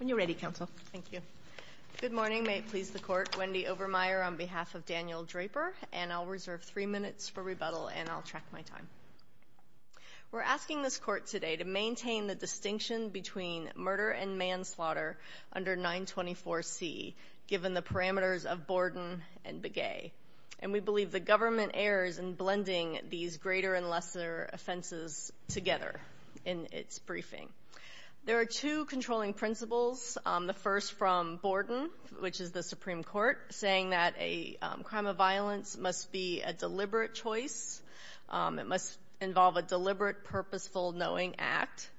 We're asking this court today to maintain the distinction between murder and manslaughter under 924C, given the parameters of Borden and Begay, and we believe the government errs in blending these greater and lesser offenses together in its briefing. There are two controlling principles, the first from Borden, which is the Supreme Court, saying that a crime of violence must be a deliberate choice. It must involve a deliberate, purposeful, knowing act.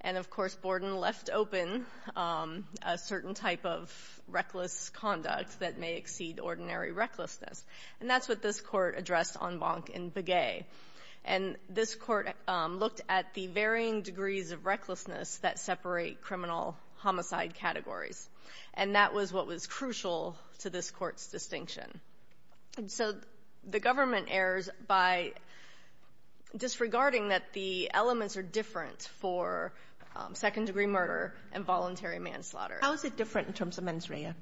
And, of course, Borden left open a certain type of reckless conduct that may exceed ordinary recklessness. And that's what this Court addressed on Bonk and Begay. And this Court looked at the varying degrees of recklessness that separate criminal homicide categories. And that was what was crucial to this Court's distinction. And so the government errs by disregarding that the elements are different for second-degree murder and voluntary manslaughter. Kagan How is it different in terms of mens rea?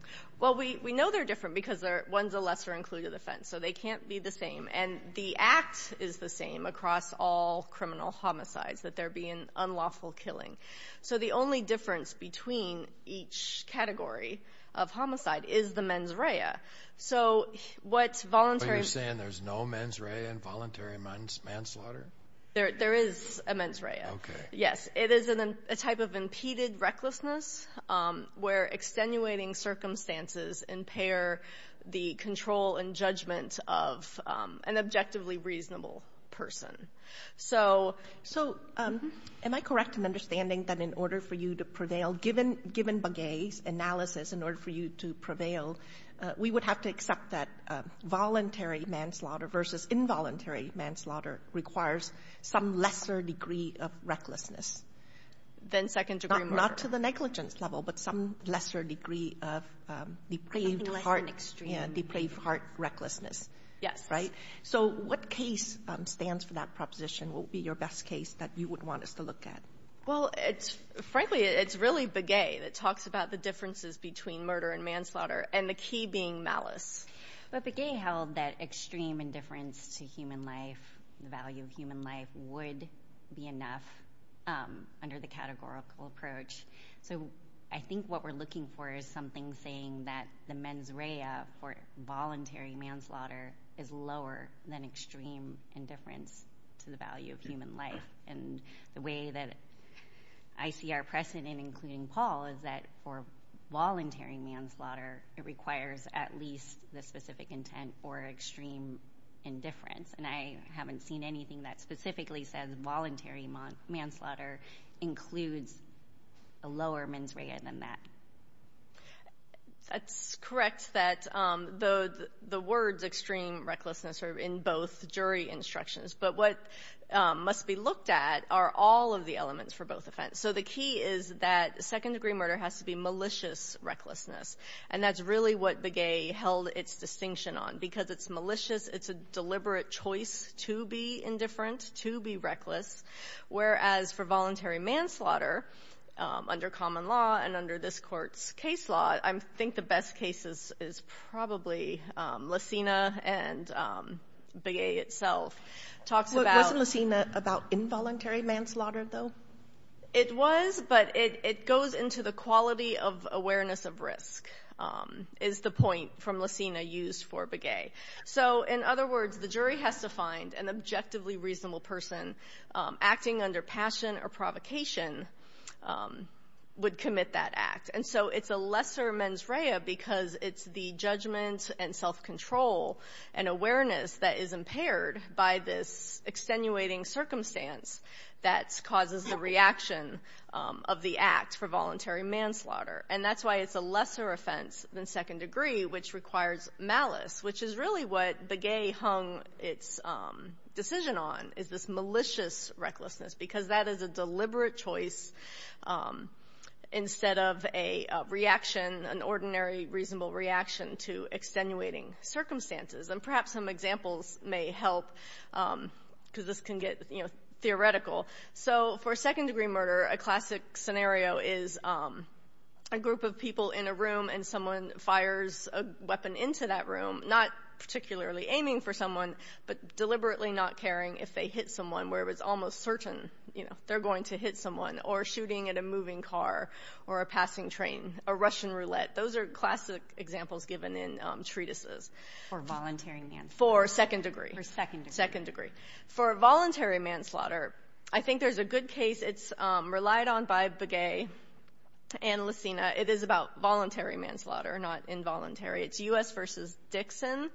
Well, we know they're different because one's a lesser-included offense. So they can't be the same. And the act is the same across all criminal homicides, that there be an unlawful killing. So the only difference between each category of homicide is the mens rea. So what's voluntary manslaughter... Are you saying there's no mens rea in voluntary manslaughter? There is a mens rea. Okay. Yes. It is a type of impeded recklessness where extenuating circumstances impair the control and judgment of an objectively reasonable person. So am I correct in understanding that in order for you to prevail, given Begay's analysis, in order for you to prevail, we would have to accept that voluntary manslaughter versus involuntary manslaughter requires some lesser degree of recklessness. Than second-degree murder. Not to the negligence level, but some lesser degree of depraved heart recklessness, right? Yes. So what case stands for that proposition? What would be your best case that you would want us to look at? Well, frankly, it's really Begay that talks about the differences between murder and manslaughter and the key being malice. But Begay held that extreme indifference to human life, the value of human life, would be enough under the categorical approach. So I think what we're looking for is something saying that the mens rea for voluntary manslaughter is lower than extreme indifference to the value of human life. And the way that I see our precedent, including Paul, is that for voluntary manslaughter, it requires at least the specific intent for extreme indifference. And I haven't seen anything that specifically says voluntary manslaughter includes a lower mens rea than that. That's correct that the words extreme recklessness are in both jury instructions. But what must be looked at are all of the elements for both offense. So the key is that second degree murder has to be malicious recklessness. And that's really what Begay held its distinction on because it's malicious. It's a deliberate choice to be indifferent, to be reckless. Whereas for voluntary manslaughter under common law and under this court's case law, I think the best cases is probably Lacina and Begay itself talks about involuntary manslaughter, though. It was, but it goes into the quality of awareness of risk is the point from Lacina used for Begay. So in other words, the jury has to find an objectively reasonable person acting under passion or provocation would commit that act. And so it's a lesser mens rea because it's the judgment and self-control and awareness that is impaired by this extenuating circumstance that causes the reaction of the act for voluntary manslaughter. And that's why it's a lesser offense than second degree, which requires malice, which is really what Begay hung its decision on, is this malicious recklessness, because that extenuating circumstances. And perhaps some examples may help because this can get, you know, theoretical. So for second degree murder, a classic scenario is a group of people in a room and someone fires a weapon into that room, not particularly aiming for someone, but deliberately not caring if they hit someone where it was almost certain, you know, they're going to hit someone, or examples given in treatises. For voluntary manslaughter. For second degree. For second degree. Second degree. For voluntary manslaughter, I think there's a good case. It's relied on by Begay and Lacina. It is about voluntary manslaughter, not involuntary. It's U.S. v. Dixon.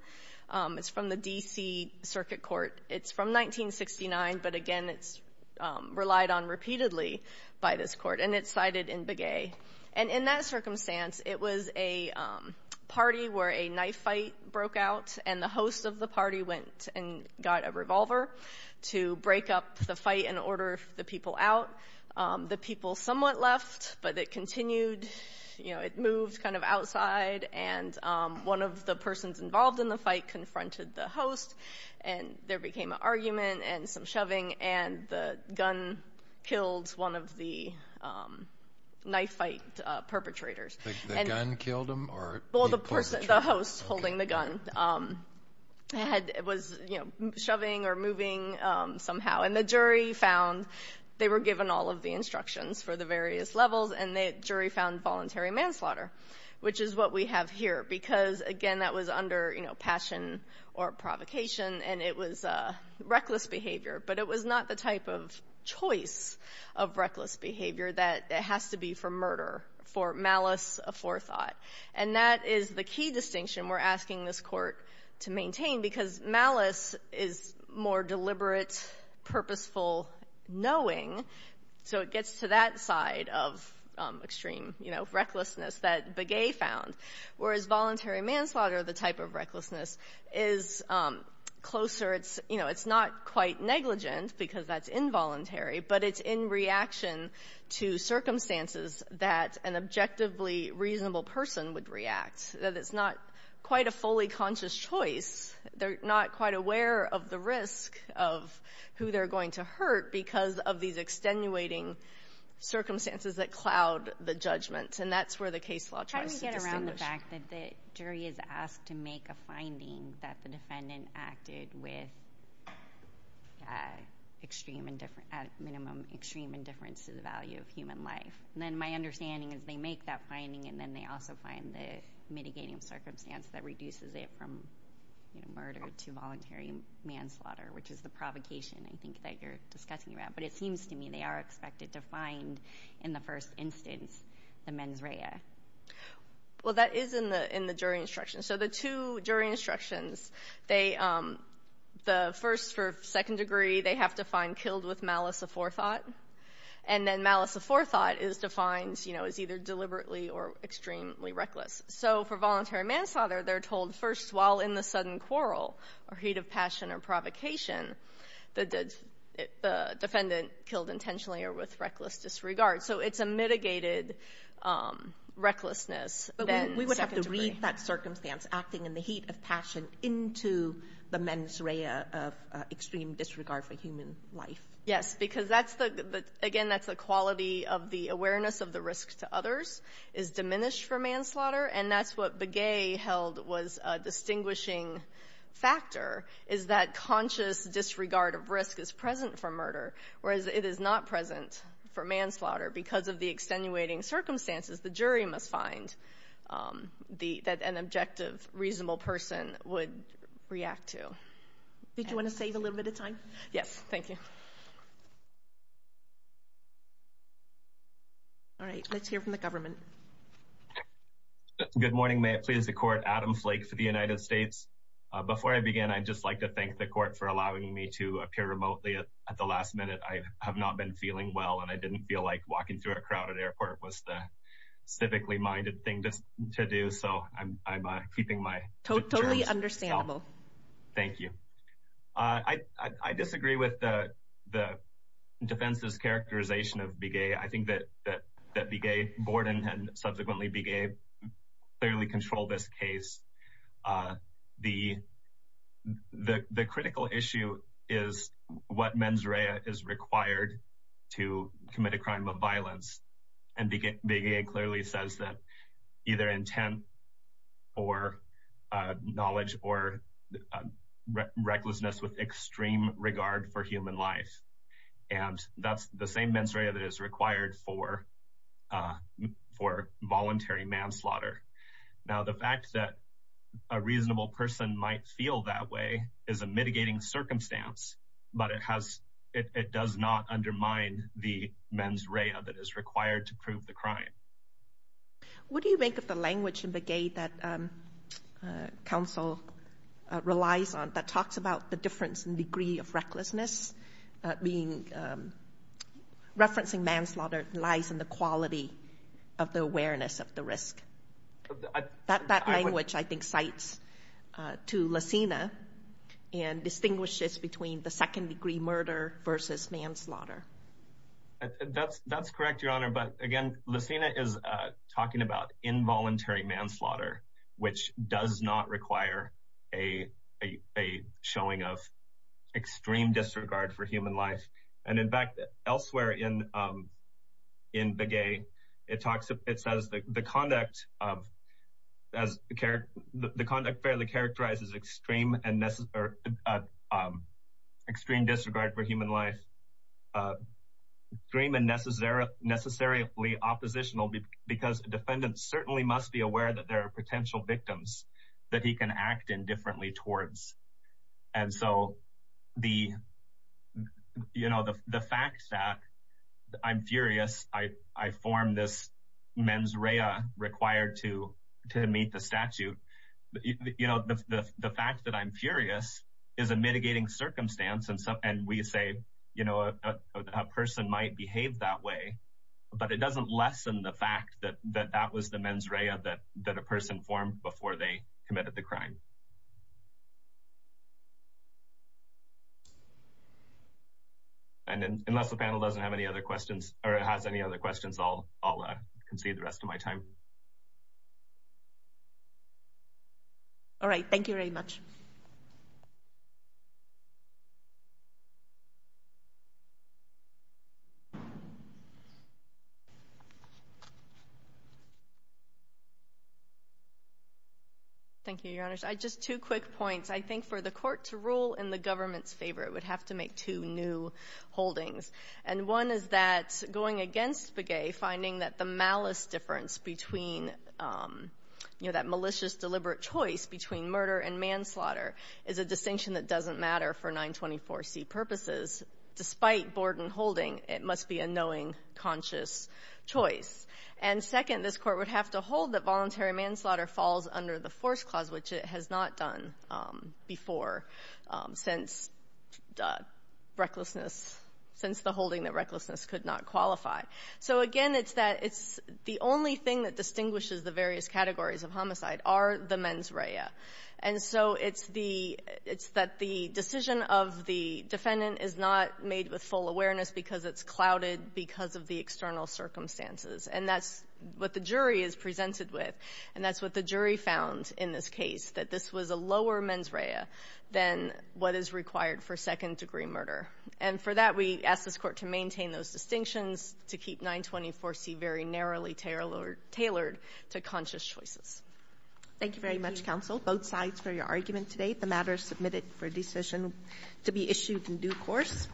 It's from the D.C. Circuit Court. It's from 1969, but again, it's relied on repeatedly by this court, and it's cited in Begay. And in that circumstance, it was a party where a knife fight broke out, and the host of the party went and got a revolver to break up the fight and order the people out. The people somewhat left, but it continued, you know, it moved kind of outside, and one of the persons involved in the fight confronted the host, and there became an argument and some shoving, and the gun killed one of the knife fight perpetrators. The gun killed him, or the perpetrator? Well, the host holding the gun was shoving or moving somehow, and the jury found, they were given all of the instructions for the various levels, and the jury found voluntary manslaughter, which is what we have here, because again, that was under passion or provocation, and it was reckless behavior, but it was not the type of choice of reckless behavior that has to be for murder, for malice aforethought. And that is the key distinction we're asking this court to maintain, because malice is more deliberate, purposeful knowing, so it gets to that side of extreme, you know, recklessness that Begay found, whereas voluntary manslaughter, the type of recklessness, is closer, you know, it's not quite negligent, because that's involuntary, but it's in reaction to circumstances that an objectively reasonable person would react, that it's not quite a fully conscious choice, they're not quite aware of the risk of who they're going to hurt because of these extenuating circumstances that cloud the judgment, and that's where the case law tries to distinguish. How do we get around the fact that the jury is asked to make a finding that the defendant acted with extreme indifference, at minimum, extreme indifference to the value of human life, and then my understanding is they make that finding, and then they also find the mitigating circumstance that reduces it from, you know, murder to voluntary manslaughter, which is the provocation, I think, that you're discussing around, but it seems to me they are expected to find, in the first instance, the mens rea. Well, that is in the jury instructions. So the two jury instructions, they, the first for second degree, they have to find killed with malice aforethought, and then malice aforethought is defined, you know, as either deliberately or extremely reckless. So for voluntary manslaughter, they're told, first, while in the sudden quarrel, or heat of passion or provocation, the defendant killed intentionally or with reckless disregard. So it's a mitigated recklessness. But we would have to read that circumstance acting in the heat of passion into the mens rea of extreme disregard for human life. Yes, because that's the, again, that's the quality of the awareness of the risk to others is diminished for manslaughter, and that's what Begay held was a distinguishing factor, is that conscious disregard of risk is present for murder, whereas it is not present for manslaughter. Because of the extenuating circumstances, the jury must find the, that an objective, reasonable person would react to. Did you want to save a little bit of time? Yes, thank you. All right, let's hear from the government. Good morning, may it please the court, Adam Flake for the United States. Before I begin, I'd just like to thank the court for allowing me to appear remotely at the last minute. I have not been feeling well, and I didn't feel like walking through a crowded airport was the civically minded thing to do. So I'm keeping my totally understandable. Thank you. I disagree with the defense's characterization of Begay. I think that Begay Borden, and subsequently Begay, clearly control this case. The critical issue is what mens rea is required to commit a crime of violence, and Begay clearly says that either intent or knowledge or recklessness with extreme regard for human life. And that's the same mens rea that is required for voluntary manslaughter. Now the fact that a reasonable person might feel that way is a mitigating circumstance, but it has, it does not undermine the mens rea that is required to prove the crime. What do you make of the language in Begay that counsel relies on that talks about the difference in degree of recklessness? Referencing manslaughter lies in the quality of the awareness of the risk. That language, I think, cites to Lesina and distinguishes between the second degree murder versus manslaughter. That's correct, your honor. But again, Lesina is talking about involuntary manslaughter, which does not require a showing of extreme disregard for human life. And in fact, elsewhere in Begay, it talks, it says the conduct of, the conduct fairly characterizes extreme disregard for human life. Extreme and necessarily oppositional because a defendant certainly must be aware that there are potential victims that he can act indifferently towards. And so the, you know, the fact that I'm furious, I form this mens rea required to meet the statute. You say, you know, a person might behave that way, but it doesn't lessen the fact that that was the mens rea that a person formed before they committed the crime. And then unless the panel doesn't have any other questions or has any other questions, I'll concede the rest of my time. All right. Thank you very much. Thank you, your honors. I just, two quick points. I think for the court to rule in the government's favor, it would have to make two new holdings. And one is that going against Begay, finding that the malice difference between, you know, that malicious, deliberate choice between murder and manslaughter is a distinction that doesn't matter for 924C purposes. Despite Borden holding, it must be a knowing, conscious choice. And second, this Court would have to hold that voluntary manslaughter falls under the Force Clause, which it has not done before since the recklessness, since the holding that recklessness could not qualify. So, again, it's that it's the only thing that distinguishes the various categories of homicide are the mens rea. And so it's the — it's that the decision of the defendant is not made with full awareness because it's clouded because of the external circumstances. And that's what the jury is presented with, and that's what the jury found in this case, that this was a lower mens rea than what is required for second-degree murder. And for that, we ask this Court to maintain those distinctions, to keep 924C very narrowly tailored to conscious choices. Thank you very much, counsel, both sides for your argument today. The matter is submitted for decision to be issued in due course.